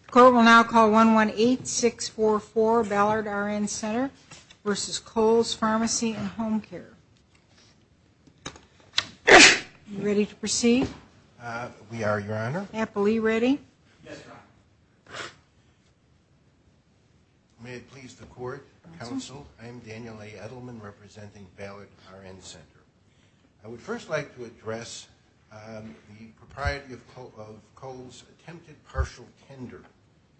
The court will now call 118-644-BALLARD-RN-CENTER v. Kohll's Pharmacy and Homecare. Are you ready to proceed? We are, Your Honor. Appellee, ready? Yes, Your Honor. May it please the court, counsel, I am Daniel A. Edelman, representing Ballard RN Center. I would first like to address the propriety of Kohll's attempted partial tender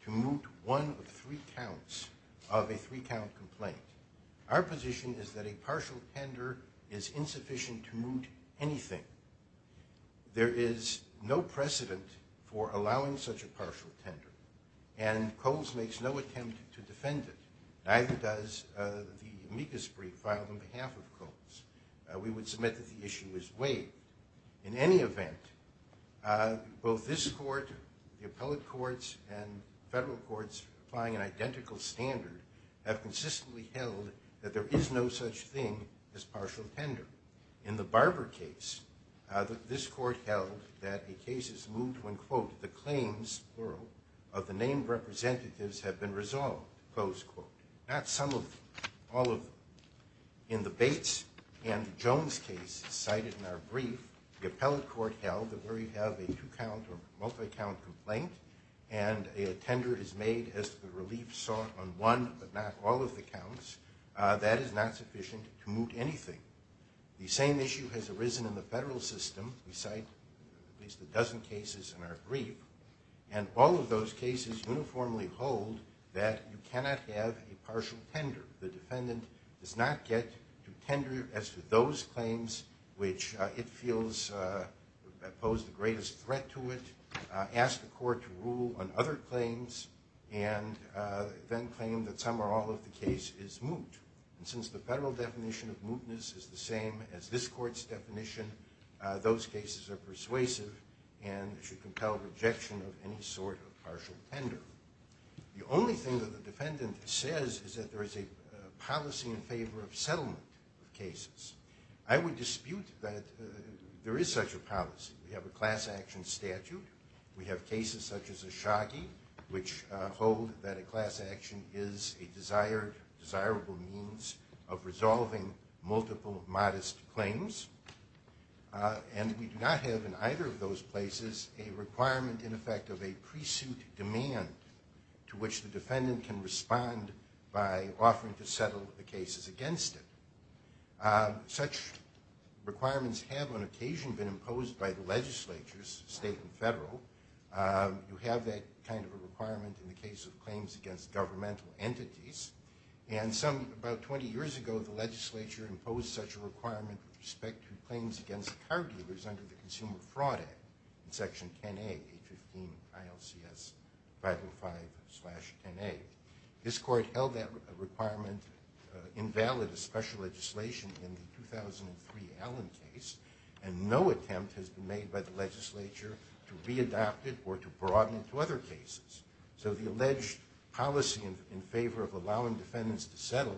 to moot one of three counts of a three-count complaint. Our position is that a partial tender is insufficient to moot anything. There is no precedent for allowing such a partial tender, and Kohll's makes no attempt to defend it, neither does the amicus brief filed on behalf of Kohll's. We would submit that the issue is weighed. In any event, both this court, the appellate courts, and federal courts applying an identical standard have consistently held that there is no such thing as partial tender. In the Barber case, this court held that a case is moot when, quote, the claims, plural, of the named representatives have been resolved, close quote. Not some of them. All of them. In the Bates and Jones case cited in our brief, the appellate court held that where you have a two-count or multi-count complaint and a tender is made as the relief sought on one but not all of the counts, that is not sufficient to moot anything. The same issue has arisen in the federal system. We cite at least a dozen cases in our brief, and all of those cases uniformly hold that you cannot have a partial tender. The defendant does not get to tender as to those claims which it feels pose the greatest threat to it, ask the court to rule on other claims, and then claim that some or all of the case is moot. And since the federal definition of mootness is the same as this court's definition, those cases are persuasive and should compel rejection of any sort of partial tender. The only thing that the defendant says is that there is a policy in favor of settlement of cases. I would dispute that there is such a policy. We have a class action statute. We have cases such as the Shaggy which hold that a class action is a desired, desirable means of resolving multiple modest claims. And we do not have in either of those places a requirement in effect of a pre-suit demand to which the defendant can respond by offering to settle the cases against it. Such requirements have on occasion been imposed by the legislatures, state and federal. You have that kind of a requirement in the case of claims against governmental entities. And about 20 years ago, the legislature imposed such a requirement with respect to claims against car dealers under the Consumer Fraud Act in Section 10A, 815 ILCS 505-10A. This court held that requirement invalid as special legislation in the 2003 Allen case, and no attempt has been made by the legislature to readopt it or to broaden it to other cases. So the alleged policy in favor of allowing defendants to settle,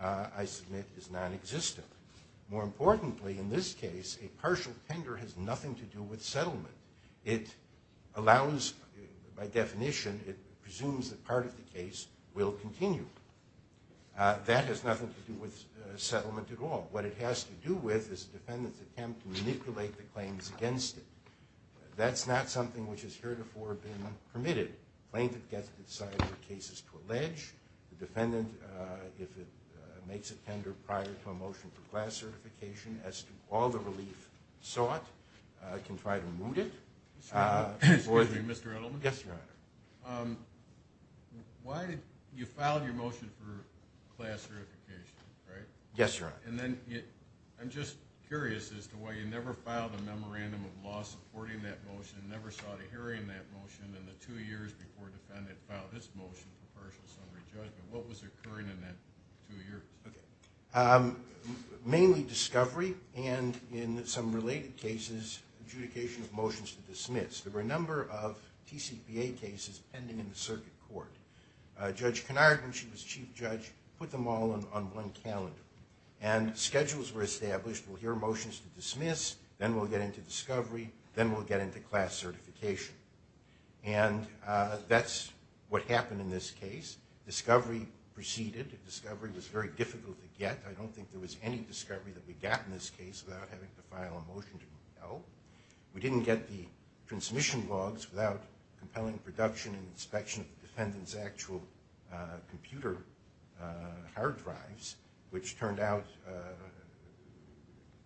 I submit, is nonexistent. More importantly, in this case, a partial tender has nothing to do with settlement. It allows, by definition, it presumes that part of the case will continue. That has nothing to do with settlement at all. What it has to do with is a defendant's attempt to manipulate the claims against it. That's not something which has heretofore been permitted. Plaintiff gets to decide what cases to allege. The defendant, if it makes a tender prior to a motion for class certification as to all the relief sought, can try to moot it. Excuse me, Mr. Edelman. Yes, Your Honor. You filed your motion for class certification, right? Yes, Your Honor. I'm just curious as to why you never filed a memorandum of law supporting that motion, never sought a hearing in that motion, and the two years before the defendant filed his motion for partial summary judgment. What was occurring in that two years? Mainly discovery and, in some related cases, adjudication of motions to dismiss. There were a number of TCPA cases pending in the circuit court. Judge Conard, when she was chief judge, put them all on one calendar. And schedules were established. We'll hear motions to dismiss, then we'll get into discovery, then we'll get into class certification. And that's what happened in this case. Discovery proceeded. Discovery was very difficult to get. I don't think there was any discovery that we got in this case without having to file a motion to moot it out. We didn't get the transmission logs without compelling production and inspection of the defendant's actual computer hard drives, which turned out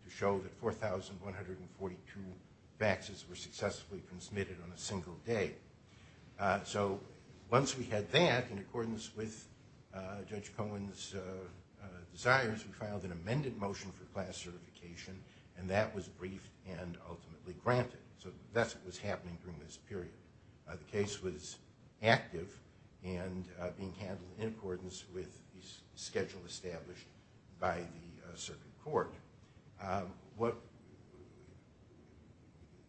to show that 4,142 faxes were successfully transmitted on a single day. So once we had that, in accordance with Judge Cohen's desires, we filed an amended motion for class certification, and that was briefed and ultimately granted. So that's what was happening during this period. The case was active and being handled in accordance with the schedule established by the circuit court.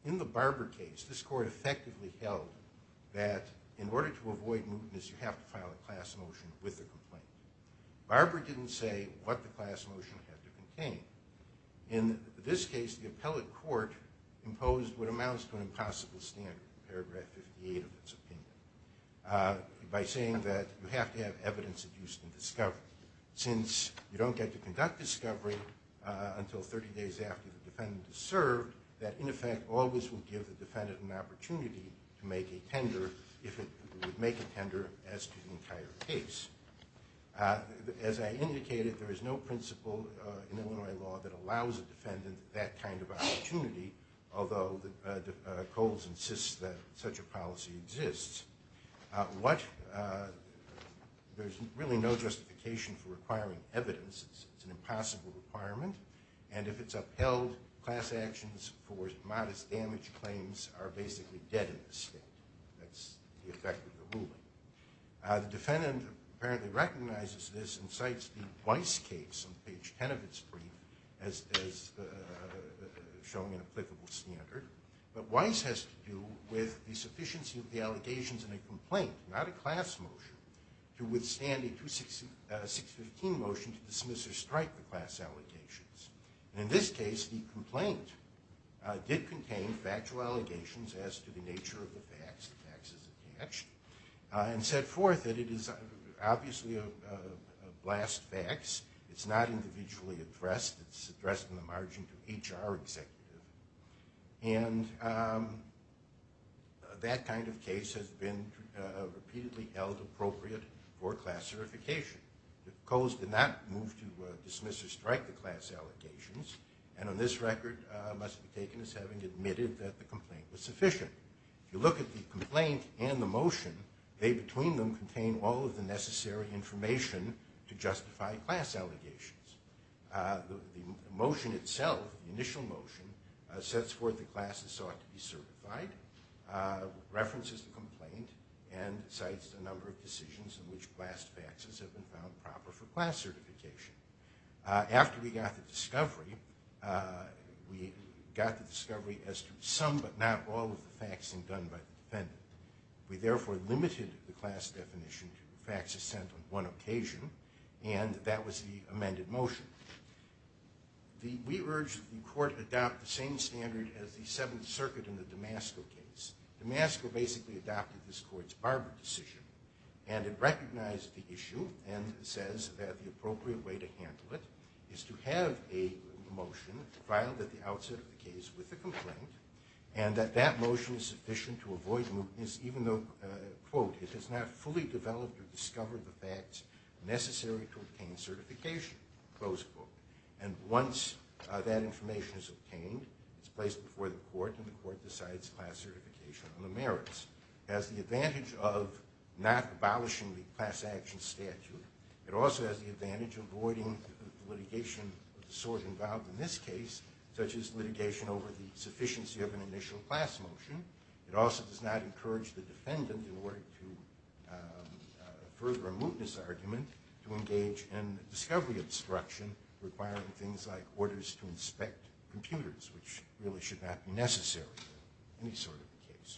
In the Barber case, this court effectively held that in order to avoid mootness, you have to file a class motion with a complaint. Barber didn't say what the class motion had to contain. In this case, the appellate court imposed what amounts to an impossible standard, paragraph 58 of its opinion, by saying that you have to have evidence adduced in discovery. Since you don't get to conduct discovery until 30 days after the defendant is served, that, in effect, always would give the defendant an opportunity to make a tender if it would make a tender as to the entire case. As I indicated, there is no principle in Illinois law that allows a defendant that kind of opportunity, although Coles insists that such a policy exists. There's really no justification for requiring evidence. It's an impossible requirement, and if it's upheld, class actions for modest damage claims are basically dead in this state. That's the effect of the ruling. The defendant apparently recognizes this and cites the Weiss case on page 10 of its brief as showing an applicable standard. But Weiss has to do with the sufficiency of the allegations in a complaint, not a class motion, to withstand a 615 motion to dismiss or strike the class allegations. In this case, the complaint did contain factual allegations as to the nature of the facts, the facts as attached, and set forth that it is obviously a blast fax. It's not individually addressed. It's addressed on the margin to HR executives. And that kind of case has been repeatedly held appropriate for class certification. Coles did not move to dismiss or strike the class allegations, and on this record must be taken as having admitted that the complaint was sufficient. If you look at the complaint and the motion, they between them contain all of the necessary information to justify class allegations. The motion itself, the initial motion, sets forth the class as sought to be certified, references the complaint, and cites a number of decisions in which blast faxes have been found proper for class certification. After we got the discovery, we got the discovery as to some but not all of the faxing done by the defendant. We therefore limited the class definition to faxes sent on one occasion, and that was the amended motion. We urged the court adopt the same standard as the Seventh Circuit in the Damasco case. Damasco basically adopted this court's Barber decision, and it recognized the issue and says that the appropriate way to handle it is to have a motion filed at the outset of the case with the complaint, and that that motion is sufficient to avoid mootness even though, quote, it has not fully developed or discovered the facts necessary to obtain certification, close quote. And once that information is obtained, it's placed before the court, and the court decides class certification on the merits. It has the advantage of not abolishing the class action statute. It also has the advantage of avoiding litigation of the sort involved in this case, such as litigation over the sufficiency of an initial class motion. It also does not encourage the defendant, in order to further a mootness argument, to engage in discovery obstruction requiring things like orders to inspect computers, which really should not be necessary in any sort of case.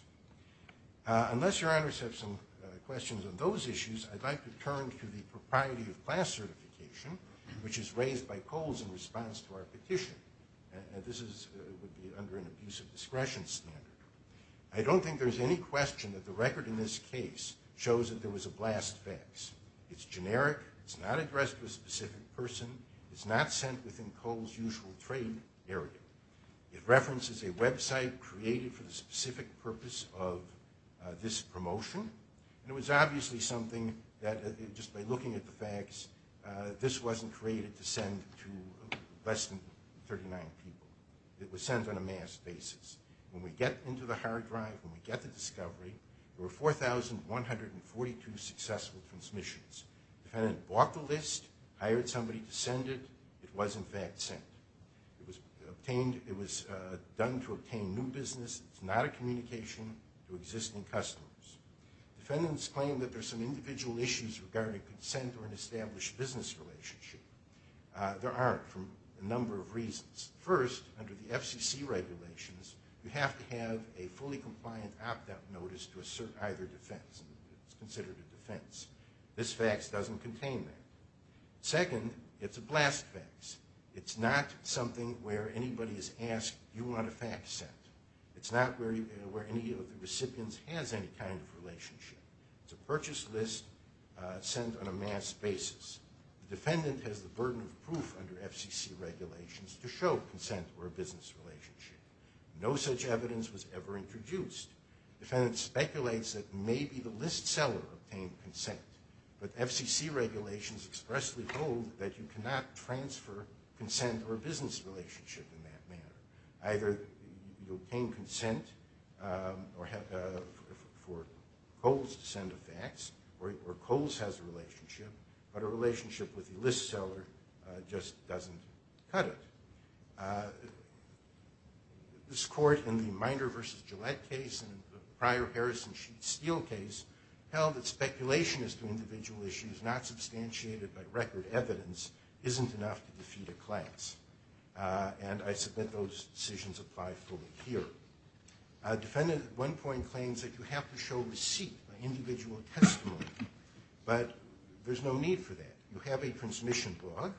Unless your honors have some questions on those issues, I'd like to turn to the propriety of class certification, which is raised by Coles in response to our petition. This would be under an abusive discretion standard. I don't think there's any question that the record in this case shows that there was a blast fax. It's generic, it's not addressed to a specific person, it's not sent within Cole's usual trade area. It references a website created for the specific purpose of this promotion, and it was obviously something that, just by looking at the fax, this wasn't created to send to less than 39 people. It was sent on a mass basis. When we get into the hard drive, when we get the discovery, there were 4,142 successful transmissions. The defendant bought the list, hired somebody to send it, it was in fact sent. It was done to obtain new business. It's not a communication to existing customers. Defendants claim that there's some individual issues regarding consent or an established business relationship. There aren't, for a number of reasons. First, under the FCC regulations, you have to have a fully compliant opt-out notice to assert either defense. It's considered a defense. This fax doesn't contain that. Second, it's a blast fax. It's not something where anybody has asked, do you want a fax sent? It's not where any of the recipients has any kind of relationship. It's a purchase list sent on a mass basis. The defendant has the burden of proof under FCC regulations to show consent or a business relationship. No such evidence was ever introduced. The defendant speculates that maybe the list seller obtained consent, but FCC regulations expressly hold that you cannot transfer consent or a business relationship in that manner. Either you obtain consent for Kohl's to send a fax, or Kohl's has a relationship, but a relationship with the list seller just doesn't cut it. This court, in the Miner v. Gillette case and the prior Harrison Sheet Steel case, held that speculation as to individual issues not substantiated by record evidence isn't enough to defeat a class. And I submit those decisions apply fully here. A defendant at one point claims that you have to show receipt, an individual testimony, but there's no need for that. You have a transmission log.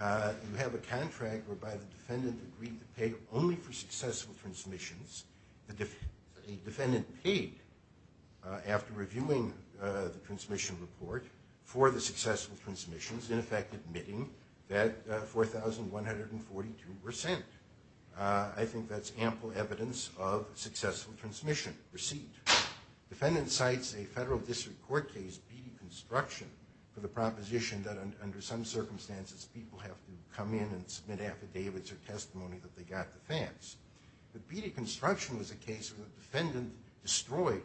You have a contract whereby the defendant agreed to pay only for successful transmissions. A defendant paid, after reviewing the transmission report, for the successful transmissions, in effect admitting that 4,142 were sent. I think that's ample evidence of successful transmission receipt. Defendant cites a federal district court case, Beattie Construction, for the proposition that under some circumstances people have to come in and submit affidavits or testimony that they got the fax. But Beattie Construction was a case where the defendant destroyed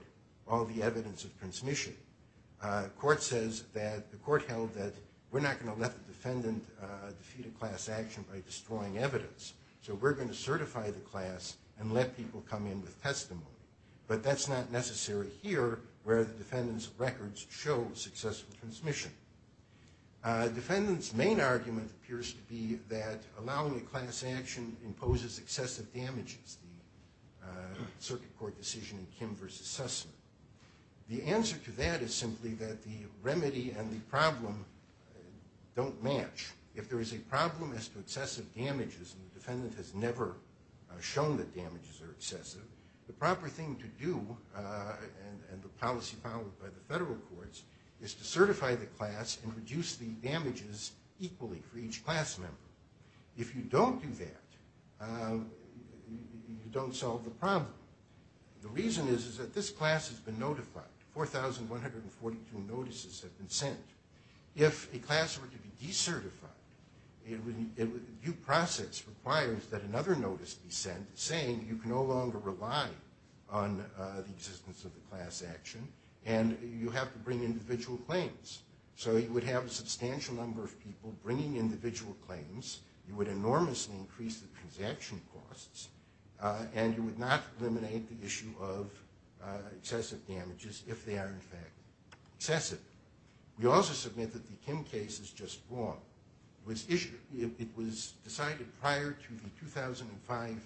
all the evidence of transmission. The court held that we're not going to let the defendant defeat a class action by destroying evidence, so we're going to certify the class and let people come in with testimony. But that's not necessary here, where the defendant's records show successful transmission. A defendant's main argument appears to be that allowing a class action imposes excessive damages, the circuit court decision in Kim v. Sussman. The answer to that is simply that the remedy and the problem don't match. If there is a problem as to excessive damages, and the defendant has never shown that damages are excessive, the proper thing to do, and the policy followed by the federal courts, is to certify the class and reduce the damages equally for each class member. If you don't do that, you don't solve the problem. The reason is that this class has been notified. 4,142 notices have been sent. If a class were to be decertified, due process requires that another notice be sent saying you can no longer rely on the existence of the class action, and you have to bring individual claims. So you would have a substantial number of people bringing individual claims, you would enormously increase the transaction costs, and you would not eliminate the issue of excessive damages if they are in fact excessive. We also submit that the Kim case is just wrong. It was decided prior to the 2005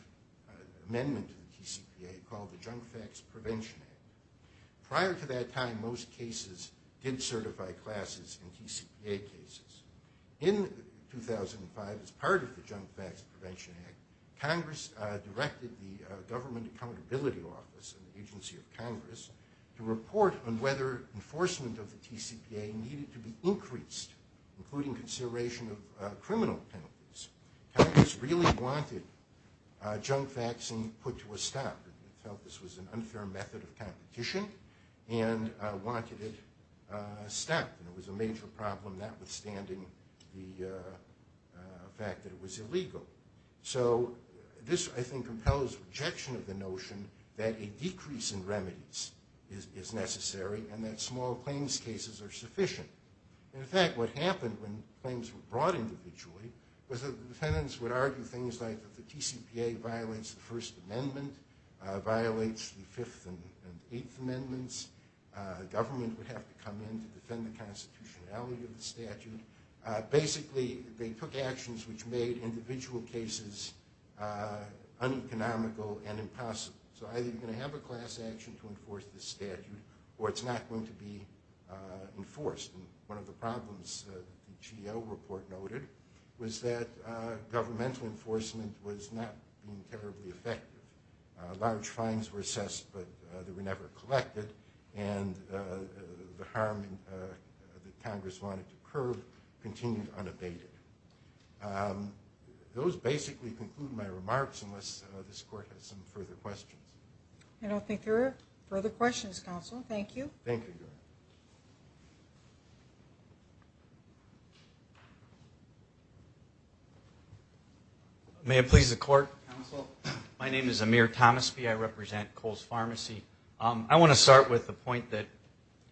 amendment to the TCPA called the Junk Facts Prevention Act. Prior to that time, most cases did certify classes in TCPA cases. In 2005, as part of the Junk Facts Prevention Act, Congress directed the Government Accountability Office, an agency of Congress, to report on whether enforcement of the TCPA needed to be increased, including consideration of criminal penalties. Congress really wanted junk facts put to a stop. It felt this was an unfair method of competition and wanted it stopped. It was a major problem, notwithstanding the fact that it was illegal. So this, I think, compels rejection of the notion that a decrease in remedies is necessary and that small claims cases are sufficient. In fact, what happened when claims were brought individually was that the defendants would argue things like that the TCPA violates the First Amendment, violates the Fifth and Eighth Amendments, the government would have to come in to defend the constitutionality of the statute. Basically, they took actions which made individual cases uneconomical and impossible. So either you're going to have a class action to enforce this statute, or it's not going to be enforced. One of the problems the GEO report noted was that governmental enforcement was not terribly effective. Large fines were assessed, but they were never collected, and the harm that Congress wanted to curb continued unabated. Those basically conclude my remarks, unless this Court has some further questions. I don't think there are further questions, Counsel. Thank you. Thank you. May it please the Court. Counsel, my name is Amir Thomasby. I represent Coles Pharmacy. I want to start with the point that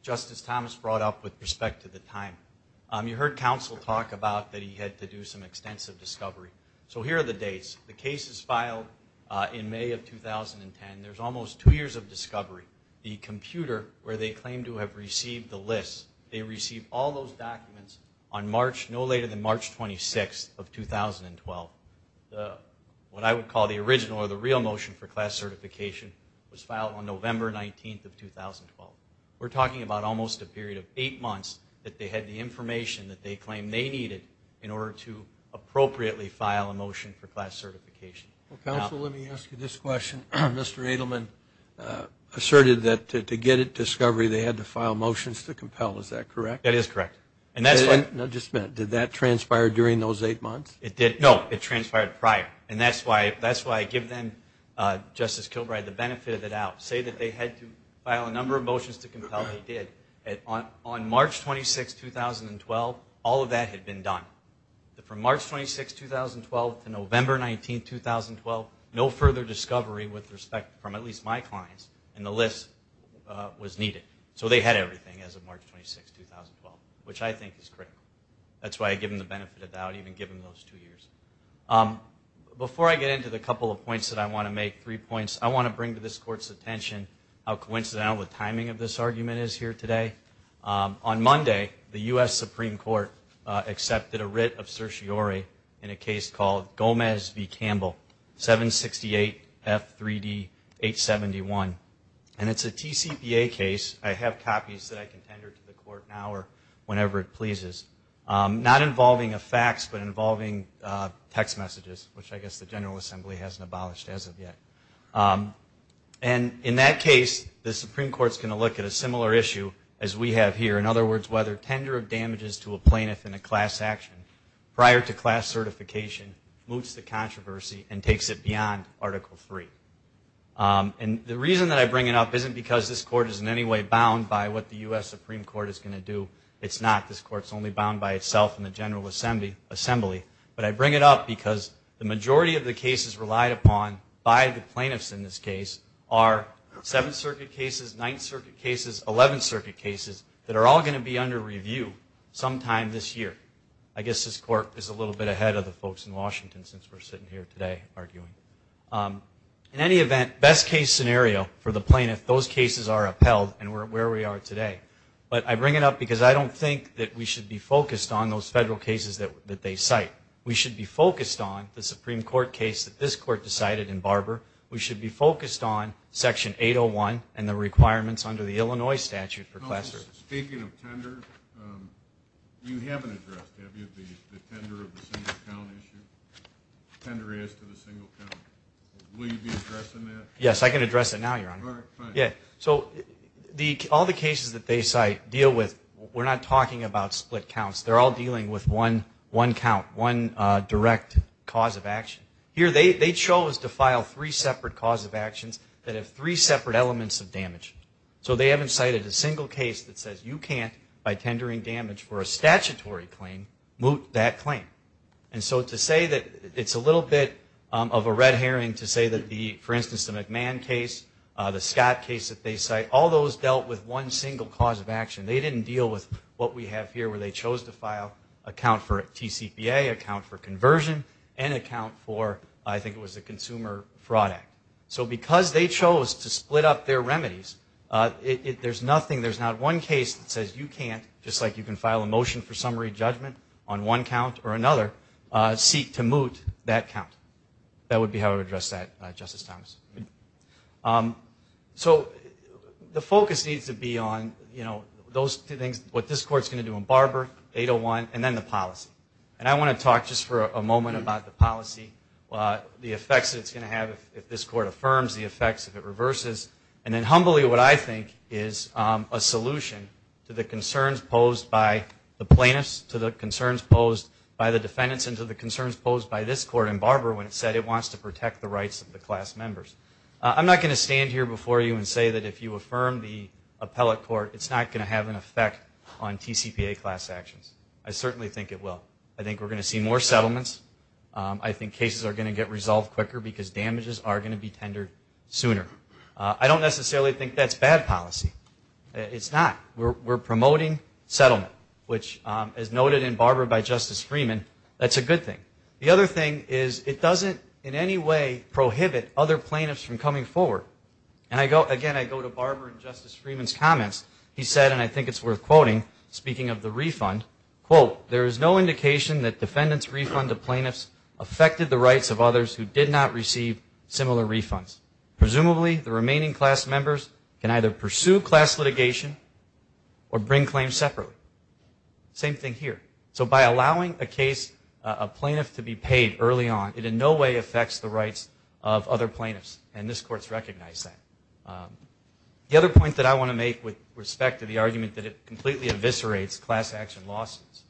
Justice Thomas brought up with respect to the time. You heard Counsel talk about that he had to do some extensive discovery. So here are the dates. The case is filed in May of 2010. There's almost two years of discovery. The computer where they claim to have received the list, they received all those documents on March, no later than March 26th of 2012. What I would call the original or the real motion for class certification was filed on November 19th of 2012. We're talking about almost a period of eight months that they had the information that they claim they needed in order to appropriately file a motion for class certification. Counsel, let me ask you this question. Mr. Edelman asserted that to get at discovery, they had to file motions to compel. Is that correct? That is correct. Now, just a minute. Did that transpire during those eight months? No, it transpired prior, and that's why I give them, Justice Kilbride, the benefit of the doubt. Say that they had to file a number of motions to compel, they did. On March 26th, 2012, all of that had been done. From March 26th, 2012 to November 19th, 2012, no further discovery with respect from at least my clients in the list was needed. So they had everything as of March 26th, 2012, which I think is critical. That's why I give them the benefit of the doubt, even given those two years. Before I get into the couple of points that I want to make, three points, I want to bring to this Court's attention how coincidental the timing of this argument is here today. On Monday, the U.S. Supreme Court accepted a writ of certiorari in a case called Gomez v. Campbell, 768F3D871. And it's a TCPA case. I have copies that I can tender to the Court now or whenever it pleases, not involving a fax, but involving text messages, which I guess the General Assembly hasn't abolished as of yet. And in that case, the Supreme Court's going to look at a similar issue as we have here. In other words, whether tender of damages to a plaintiff in a class action prior to class certification moots the controversy and takes it beyond Article III. And the reason that I bring it up isn't because this Court is in any way bound by what the U.S. Supreme Court is going to do. It's not. This Court's only bound by itself and the General Assembly. But I bring it up because the majority of the cases relied upon by the plaintiffs in this case are Seventh Circuit cases, Ninth Circuit cases, Eleventh Circuit cases that are all going to be under review sometime this year. I guess this Court is a little bit ahead of the folks in Washington since we're sitting here today arguing. In any event, best case scenario for the plaintiff, those cases are upheld and we're where we are today. But I bring it up because I don't think that we should be focused on those federal cases that they cite. We should be focused on the Supreme Court case that this Court decided in Barber. We should be focused on Section 801 and the requirements under the Illinois statute for class certification. Speaking of tender, you haven't addressed, have you, the tender of the single count issue? Tender is to the single count. Will you be addressing that? Yes, I can address it now, Your Honor. All right, fine. We're not talking about split counts. They're all dealing with one count, one direct cause of action. Here they chose to file three separate cause of actions that have three separate elements of damage. So they haven't cited a single case that says you can't, by tendering damage for a statutory claim, moot that claim. And so to say that it's a little bit of a red herring to say that the, for instance, the McMahon case, the Scott case that they cite, all those dealt with one single cause of action. They didn't deal with what we have here where they chose to file a count for TCPA, a count for conversion, and a count for, I think it was the Consumer Fraud Act. So because they chose to split up their remedies, there's nothing, there's not one case that says you can't, just like you can file a motion for summary judgment on one count or another, seek to moot that count. That would be how I would address that, Justice Thomas. So the focus needs to be on, you know, those two things, what this Court's going to do in Barber, 801, and then the policy. And I want to talk just for a moment about the policy, the effects that it's going to have if this Court affirms, the effects if it reverses, and then humbly what I think is a solution to the concerns posed by the plaintiffs, to the concerns posed by the defendants, and to the concerns posed by this Court in Barber when it said it wants to protect the rights of the class members. I'm not going to stand here before you and say that if you affirm the appellate court, it's not going to have an effect on TCPA class actions. I certainly think it will. I think we're going to see more settlements. I think cases are going to get resolved quicker because damages are going to be tendered sooner. I don't necessarily think that's bad policy. It's not. We're promoting settlement, which, as noted in Barber by Justice Freeman, that's a good thing. The other thing is it doesn't in any way prohibit other plaintiffs from coming forward. And, again, I go to Barber and Justice Freeman's comments. He said, and I think it's worth quoting, speaking of the refund, quote, there is no indication that defendants' refund to plaintiffs affected the rights of others who did not receive similar refunds. Presumably, the remaining class members can either pursue class litigation or bring claims separately. Same thing here. So by allowing a case, a plaintiff, to be paid early on, it in no way affects the rights of other plaintiffs. And this Court's recognized that. The other point that I want to make with respect to the argument that it completely eviscerates class action lawsuits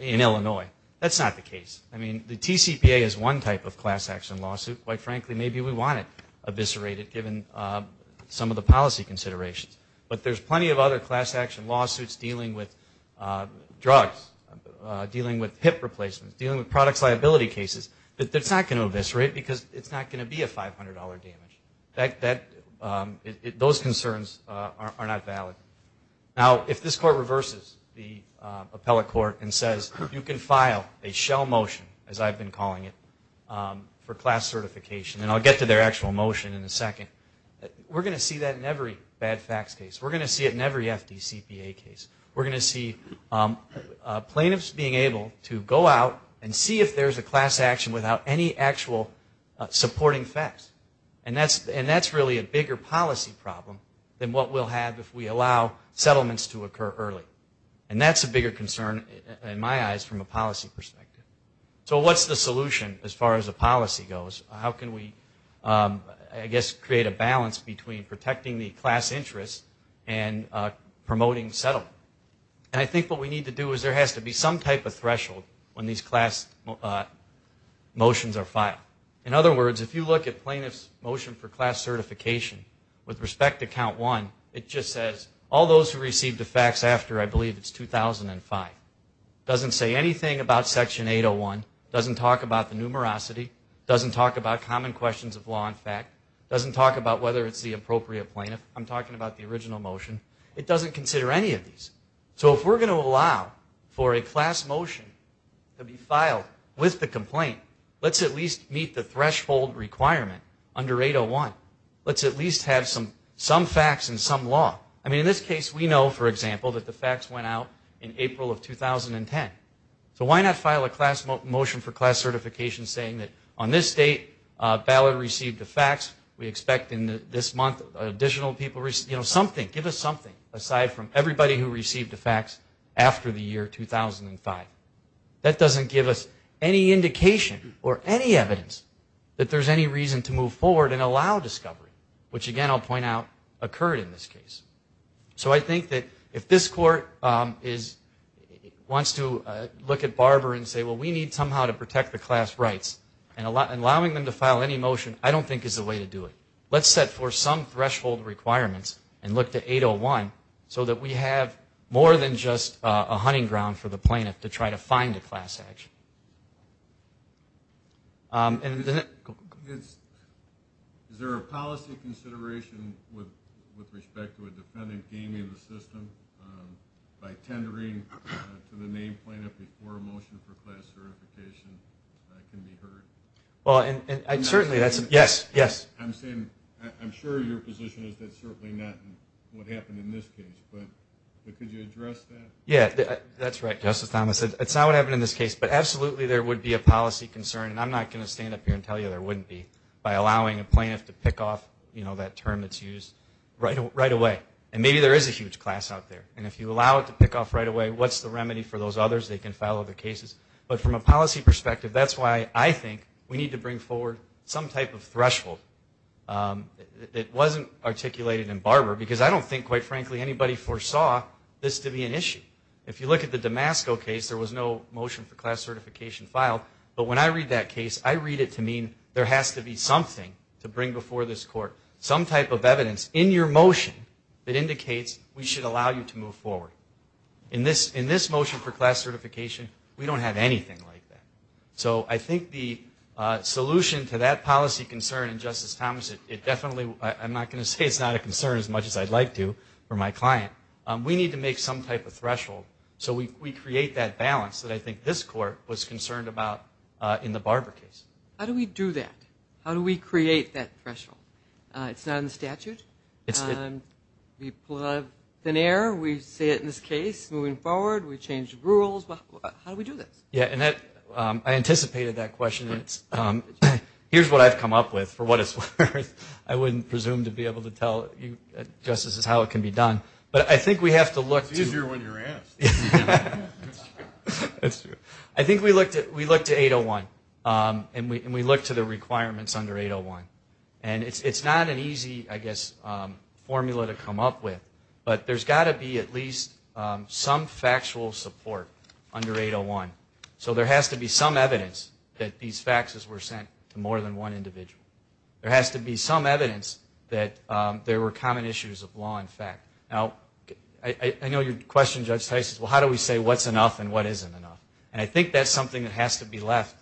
in Illinois, that's not the case. I mean, the TCPA is one type of class action lawsuit. Quite frankly, maybe we want it eviscerated given some of the policy considerations. But there's plenty of other class action lawsuits dealing with drugs, dealing with hip replacements, dealing with products liability cases that's not going to eviscerate because it's not going to be a $500 damage. Those concerns are not valid. Now, if this Court reverses the appellate court and says, you can file a shell motion, as I've been calling it, for class certification, and I'll get to their actual motion in a second, we're going to see that in every bad facts case. We're going to see it in every FDCPA case. We're going to see plaintiffs being able to go out and see if there's a class action without any actual supporting facts. And that's really a bigger policy problem than what we'll have if we allow settlements to occur early. And that's a bigger concern, in my eyes, from a policy perspective. So what's the solution as far as the policy goes? How can we, I guess, create a balance between protecting the class interest and promoting settlement? And I think what we need to do is there has to be some type of threshold when these class motions are filed. In other words, if you look at plaintiff's motion for class certification, with respect to Count 1, it just says, all those who received the facts after, I believe it's 2005. It doesn't say anything about Section 801. It doesn't talk about the numerosity. It doesn't talk about common questions of law and fact. It doesn't talk about whether it's the appropriate plaintiff. I'm talking about the original motion. It doesn't consider any of these. So if we're going to allow for a class motion to be filed with the complaint, let's at least meet the threshold requirement under 801. Let's at least have some facts and some law. I mean, in this case, we know, for example, that the facts went out in April of 2010. So why not file a class motion for class certification saying that on this date, Ballard received the facts. We expect in this month additional people received, you know, something. Give us something aside from everybody who received the facts after the year 2005. That doesn't give us any indication or any evidence that there's any reason to move forward and allow discovery, which, again, I'll point out occurred in this case. So I think that if this Court wants to look at Barber and say, well, we need somehow to protect the class rights, and allowing them to file any motion, I don't think is the way to do it. Let's set forth some threshold requirements and look to 801 so that we have more than just a hunting ground for the plaintiff to try to find a class action. Is there a policy consideration with respect to a dependent gaining the system by tendering to the named plaintiff before a motion for class certification can be heard? Well, certainly, yes, yes. I'm saying I'm sure your position is that certainly not what happened in this case, but could you address that? Yeah, that's right, Justice Thomas. It's not what happened in this case, but absolutely there would be a policy concern, and I'm not going to stand up here and tell you there wouldn't be, by allowing a plaintiff to pick off that term that's used right away. And maybe there is a huge class out there, and if you allow it to pick off right away, what's the remedy for those others? They can file other cases. But from a policy perspective, that's why I think we need to bring forward some type of threshold that wasn't articulated in Barber, because I don't think, quite frankly, anybody foresaw this to be an issue. If you look at the Damasco case, there was no motion for class certification filed. But when I read that case, I read it to mean there has to be something to bring before this Court, some type of evidence in your motion that indicates we should allow you to move forward. In this motion for class certification, we don't have anything like that. So I think the solution to that policy concern in Justice Thomas, it definitely, I'm not going to say it's not a concern as much as I'd like to for my client. We need to make some type of threshold. So we create that balance that I think this Court was concerned about in the Barber case. How do we do that? How do we create that threshold? It's not in the statute. We pull out of thin air. We say it in this case, moving forward, we change the rules. How do we do this? Yeah, and I anticipated that question. Here's what I've come up with for what it's worth. I wouldn't presume to be able to tell you, Justice, how it can be done. But I think we have to look. It's easier when you're asked. I think we look to 801, and we look to the requirements under 801. And it's not an easy, I guess, formula to come up with. But there's got to be at least some factual support under 801. So there has to be some evidence that these faxes were sent to more than one individual. There has to be some evidence that there were common issues of law and fact. Now, I know your question, Judge Tice, is, well, how do we say what's enough and what isn't enough? And I think that's something that has to be left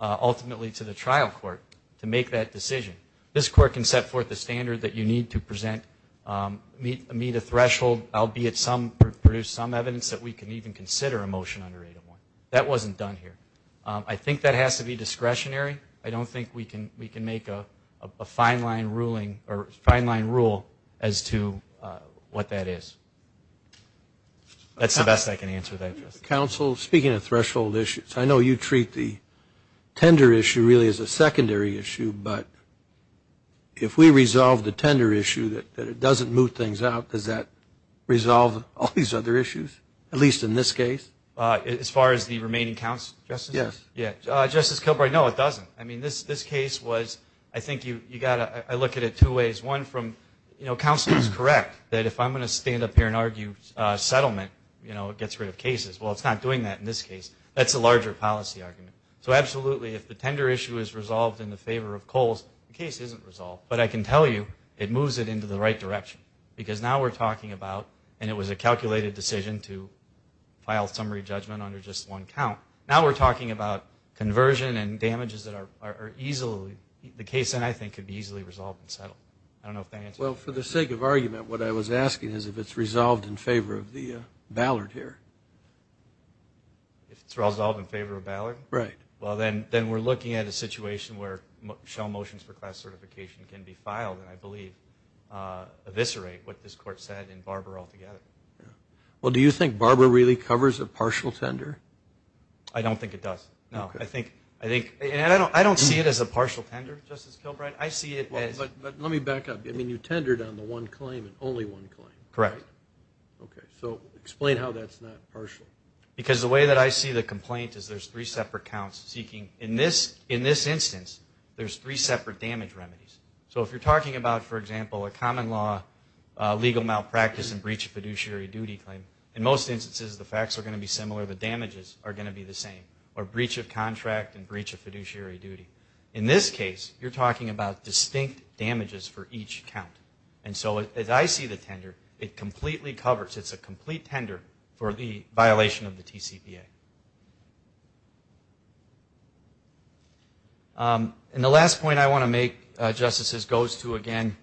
ultimately to the trial court to make that decision. This court can set forth the standard that you need to meet a threshold, albeit produce some evidence that we can even consider a motion under 801. That wasn't done here. I think that has to be discretionary. I don't think we can make a fine-line rule as to what that is. That's the best I can answer that, Justice. Counsel, speaking of threshold issues, I know you treat the tender issue really as a secondary issue, but if we resolve the tender issue that it doesn't move things out, does that resolve all these other issues, at least in this case? As far as the remaining counsel, Justice? Yes. Justice Kilbride, no, it doesn't. I mean, this case was, I think you got to look at it two ways. One from, you know, counsel is correct that if I'm going to stand up here and argue settlement, you know, it gets rid of cases. Well, it's not doing that in this case. That's a larger policy argument. So, absolutely, if the tender issue is resolved in the favor of Kohl's, the case isn't resolved. But I can tell you it moves it into the right direction because now we're talking about, and it was a calculated decision to file summary judgment under just one count, now we're talking about conversion and damages that are easily, the case then I think could be easily resolved and settled. I don't know if that answers your question. Well, for the sake of argument, what I was asking is if it's resolved in favor of Ballard here. If it's resolved in favor of Ballard? Right. Well, then we're looking at a situation where shell motions for class certification can be filed, and I believe eviscerate what this Court said in Barber altogether. Well, do you think Barber really covers a partial tender? I don't think it does. No. Okay. I think, and I don't see it as a partial tender, Justice Kilbride. I see it as. But let me back up. I mean, you tendered on the one claim and only one claim. Correct. Okay. So explain how that's not partial. Because the way that I see the complaint is there's three separate counts seeking. In this instance, there's three separate damage remedies. So if you're talking about, for example, a common law legal malpractice and breach of fiduciary duty claim, in most instances the facts are going to be similar, the damages are going to be the same, or breach of contract and breach of fiduciary duty. In this case, you're talking about distinct damages for each count. And so as I see the tender, it completely covers, it's a complete tender for the violation of the TCPA. And the last point I want to make, Justices, goes to, again,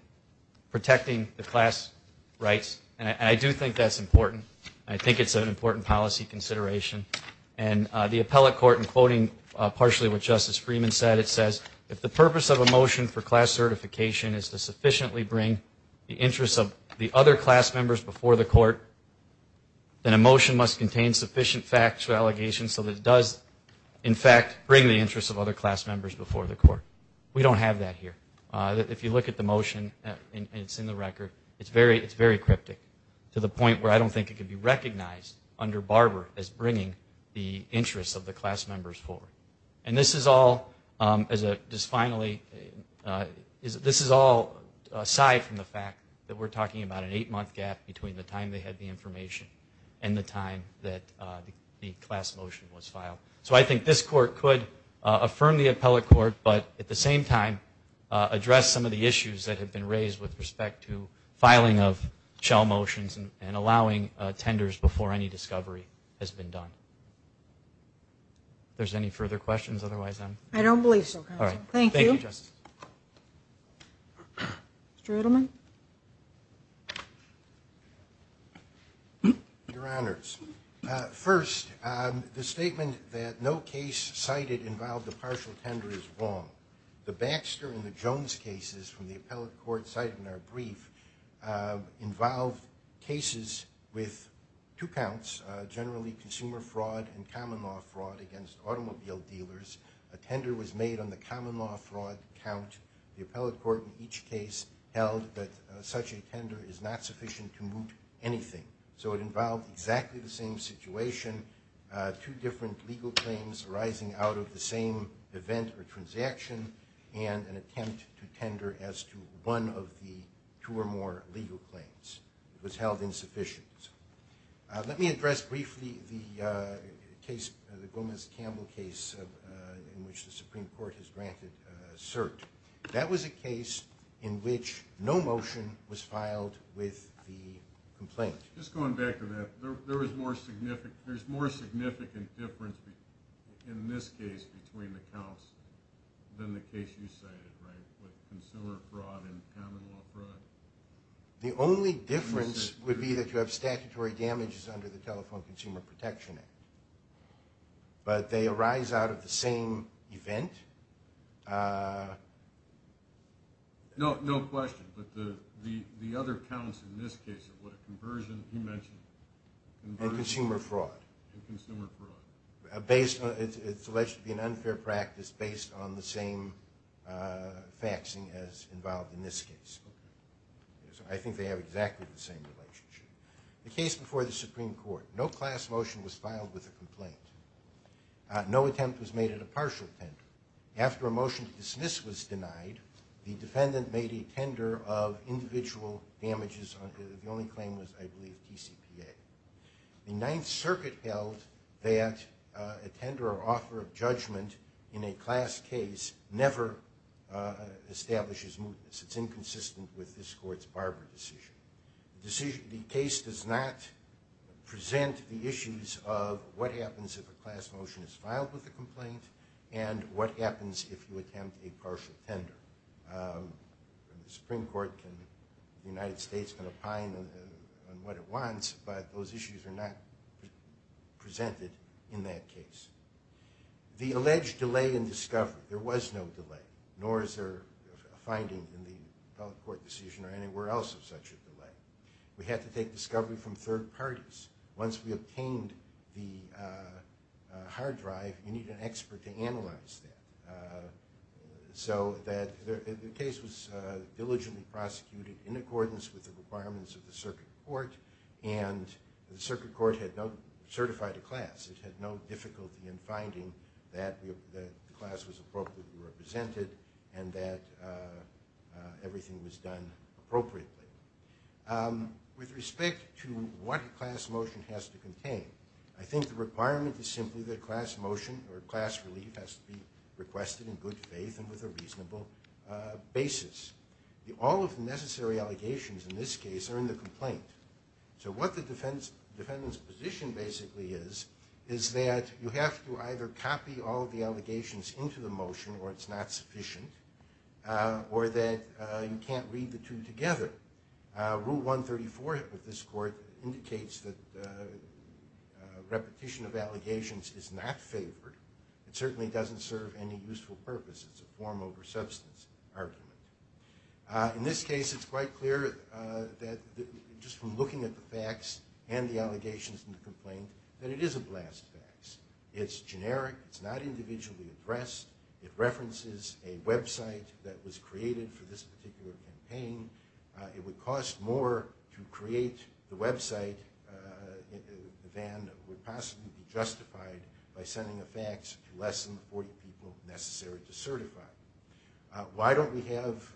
protecting the class rights. And I do think that's important. I think it's an important policy consideration. And the appellate court, in quoting partially what Justice Freeman said, it says, if the purpose of a motion for class certification is to sufficiently bring the interests of the other class members before the court, then a motion must contain sufficient factual allegations so that it does, in fact, bring the interests of other class members before the court. We don't have that here. If you look at the motion, it's in the record, it's very cryptic, to the point where I don't think it could be recognized under Barber as bringing the interests of the class members forward. And this is all, just finally, this is all aside from the fact that we're talking about an eight-month gap between the time they had the information and the time that the class motion was filed. So I think this court could affirm the appellate court, but at the same time address some of the issues that have been raised with respect to filing of shell motions and allowing tenders before any discovery has been done. If there's any further questions, otherwise I'm... I don't believe so, counsel. Thank you. Thank you, Justice. Mr. Edelman. Your Honors. First, the statement that no case cited involved a partial tender is wrong. The Baxter and the Jones cases from the appellate court cited in our brief involved cases with two counts, generally consumer fraud and common law fraud against automobile dealers. A tender was made on the common law fraud count. The appellate court in each case held that such a tender is not sufficient to move anything. So it involved exactly the same situation, two different legal claims arising out of the same event or transaction, and an attempt to tender as to one of the two or more legal claims. It was held insufficient. Let me address briefly the case, the Gomez-Campbell case in which the Supreme Court has granted cert. That was a case in which no motion was filed with the complaint. Just going back to that, there is more significant difference in this case between the counts than the case you cited, right, with consumer fraud and common law fraud? The only difference would be that you have statutory damages under the Telephone Consumer Protection Act, but they arise out of the same event. No question, but the other counts in this case are what a conversion, you mentioned. And consumer fraud. And consumer fraud. It's alleged to be an unfair practice based on the same faxing as involved in this case. I think they have exactly the same relationship. The case before the Supreme Court. No class motion was filed with the complaint. No attempt was made at a partial tender. After a motion to dismiss was denied, the defendant made a tender of individual damages. The only claim was, I believe, TCPA. The Ninth Circuit held that a tender or offer of judgment in a class case never establishes mootness. It's inconsistent with this Court's Barber decision. The case does not present the issues of what happens if a class motion is filed with the complaint and what happens if you attempt a partial tender. The Supreme Court can, the United States can opine on what it wants, but those issues are not presented in that case. The alleged delay in discovery. There was no delay, nor is there a finding in the federal court decision or anywhere else of such a delay. We had to take discovery from third parties. Once we obtained the hard drive, you need an expert to analyze that. So the case was diligently prosecuted in accordance with the requirements of the circuit court, and the circuit court had certified a class. It had no difficulty in finding that the class was appropriately represented and that everything was done appropriately. With respect to what a class motion has to contain, I think the requirement is simply that a class motion or a class relief has to be requested in good faith and with a reasonable basis. All of the necessary allegations in this case are in the complaint. So what the defendant's position basically is, is that you have to either copy all of the allegations into the motion or it's not sufficient, or that you can't read the two together. Rule 134 of this court indicates that repetition of allegations is not favored. It certainly doesn't serve any useful purpose. It's a form over substance argument. In this case, it's quite clear that just from looking at the facts and the allegations in the complaint that it is a blast fax. It's generic. It's not individually addressed. It references a website that was created for this particular campaign. by sending a fax to less than the 40 people necessary to certify. Why don't we have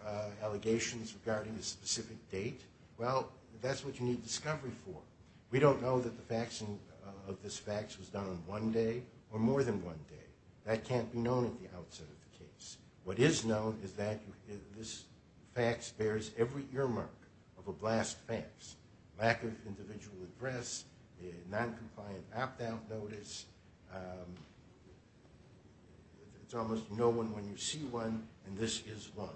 allegations regarding a specific date? Well, that's what you need discovery for. We don't know that the faxing of this fax was done in one day or more than one day. That can't be known at the outset of the case. What is known is that this fax bears every earmark of a blast fax, lack of individual address, non-compliant opt-out notice. There's almost no one when you see one, and this is one.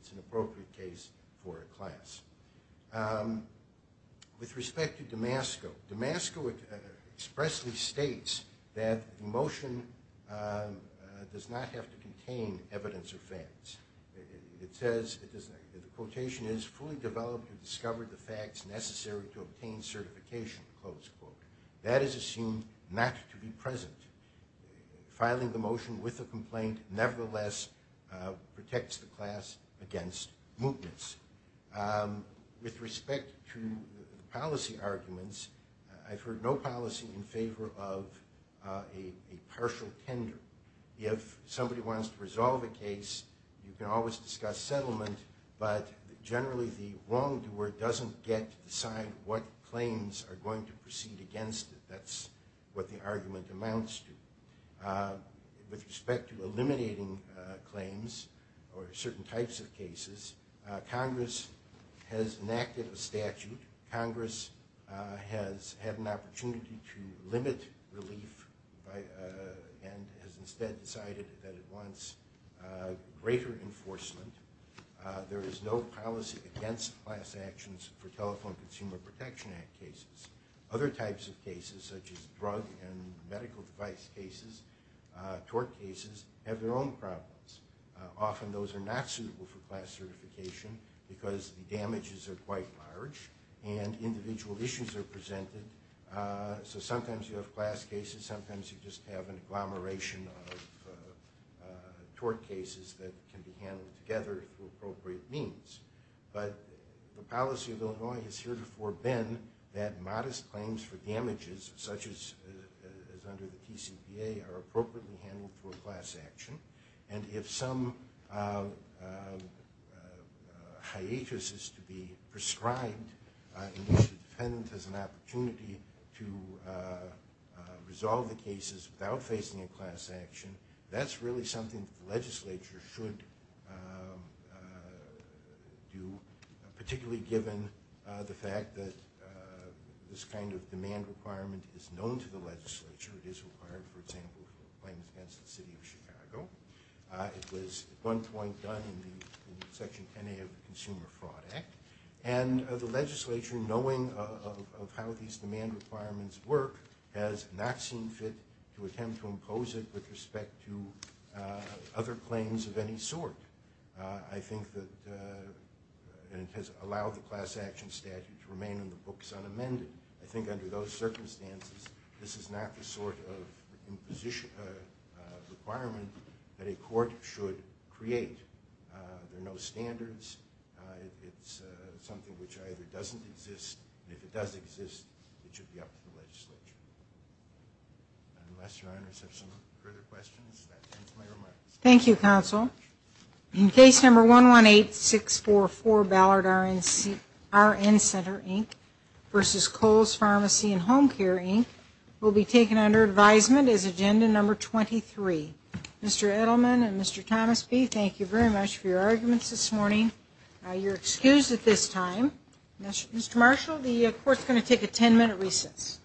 It's an appropriate case for a class. With respect to Damasco, Damasco expressly states that the motion does not have to contain evidence or facts. It says, the quotation is, fully developed and discovered the facts necessary to obtain certification. That is assumed not to be present. Filing the motion with a complaint nevertheless protects the class against mootness. With respect to policy arguments, I've heard no policy in favor of a partial tender. If somebody wants to resolve a case, you can always discuss settlement, but generally the wrongdoer doesn't get to decide what claims are going to proceed against it. That's what the argument amounts to. With respect to eliminating claims or certain types of cases, Congress has enacted a statute. Congress has had an opportunity to limit relief and has instead decided that it wants greater enforcement. There is no policy against class actions for Telephone Consumer Protection Act cases. Other types of cases, such as drug and medical device cases, tort cases, have their own problems. Often those are not suitable for class certification because the damages are quite large and individual issues are presented. Sometimes you have class cases, sometimes you just have an agglomeration of tort cases that can be handled together through appropriate means. The policy of Illinois is here to forbid that modest claims for damages, such as under the TCPA, are appropriately handled for a class action. If some hiatus is to be prescribed, the defendant has an opportunity to resolve the cases without facing a class action. That's really something the legislature should do, particularly given the fact that this kind of demand requirement is known to the legislature. It is required, for example, for claims against the City of Chicago. It was at one point done in Section 10A of the Consumer Fraud Act. And the legislature, knowing of how these demand requirements work, has not seen fit to attempt to impose it with respect to other claims of any sort. I think that it has allowed the class action statute to remain in the books unamended. I think under those circumstances, this is not the sort of requirement that a court should create. There are no standards. It's something which either doesn't exist, and if it does exist, it should be up to the legislature. Unless Your Honors have some further questions, that ends my remarks. Thank you, Counsel. In Case No. 118644, Ballard RN Center, Inc. v. Kohls Pharmacy and Home Care, Inc., will be taken under advisement as Agenda No. 23. Mr. Edelman and Mr. Thomasby, thank you very much for your arguments this morning. You're excused at this time. Mr. Marshall, the court is going to take a ten-minute recess.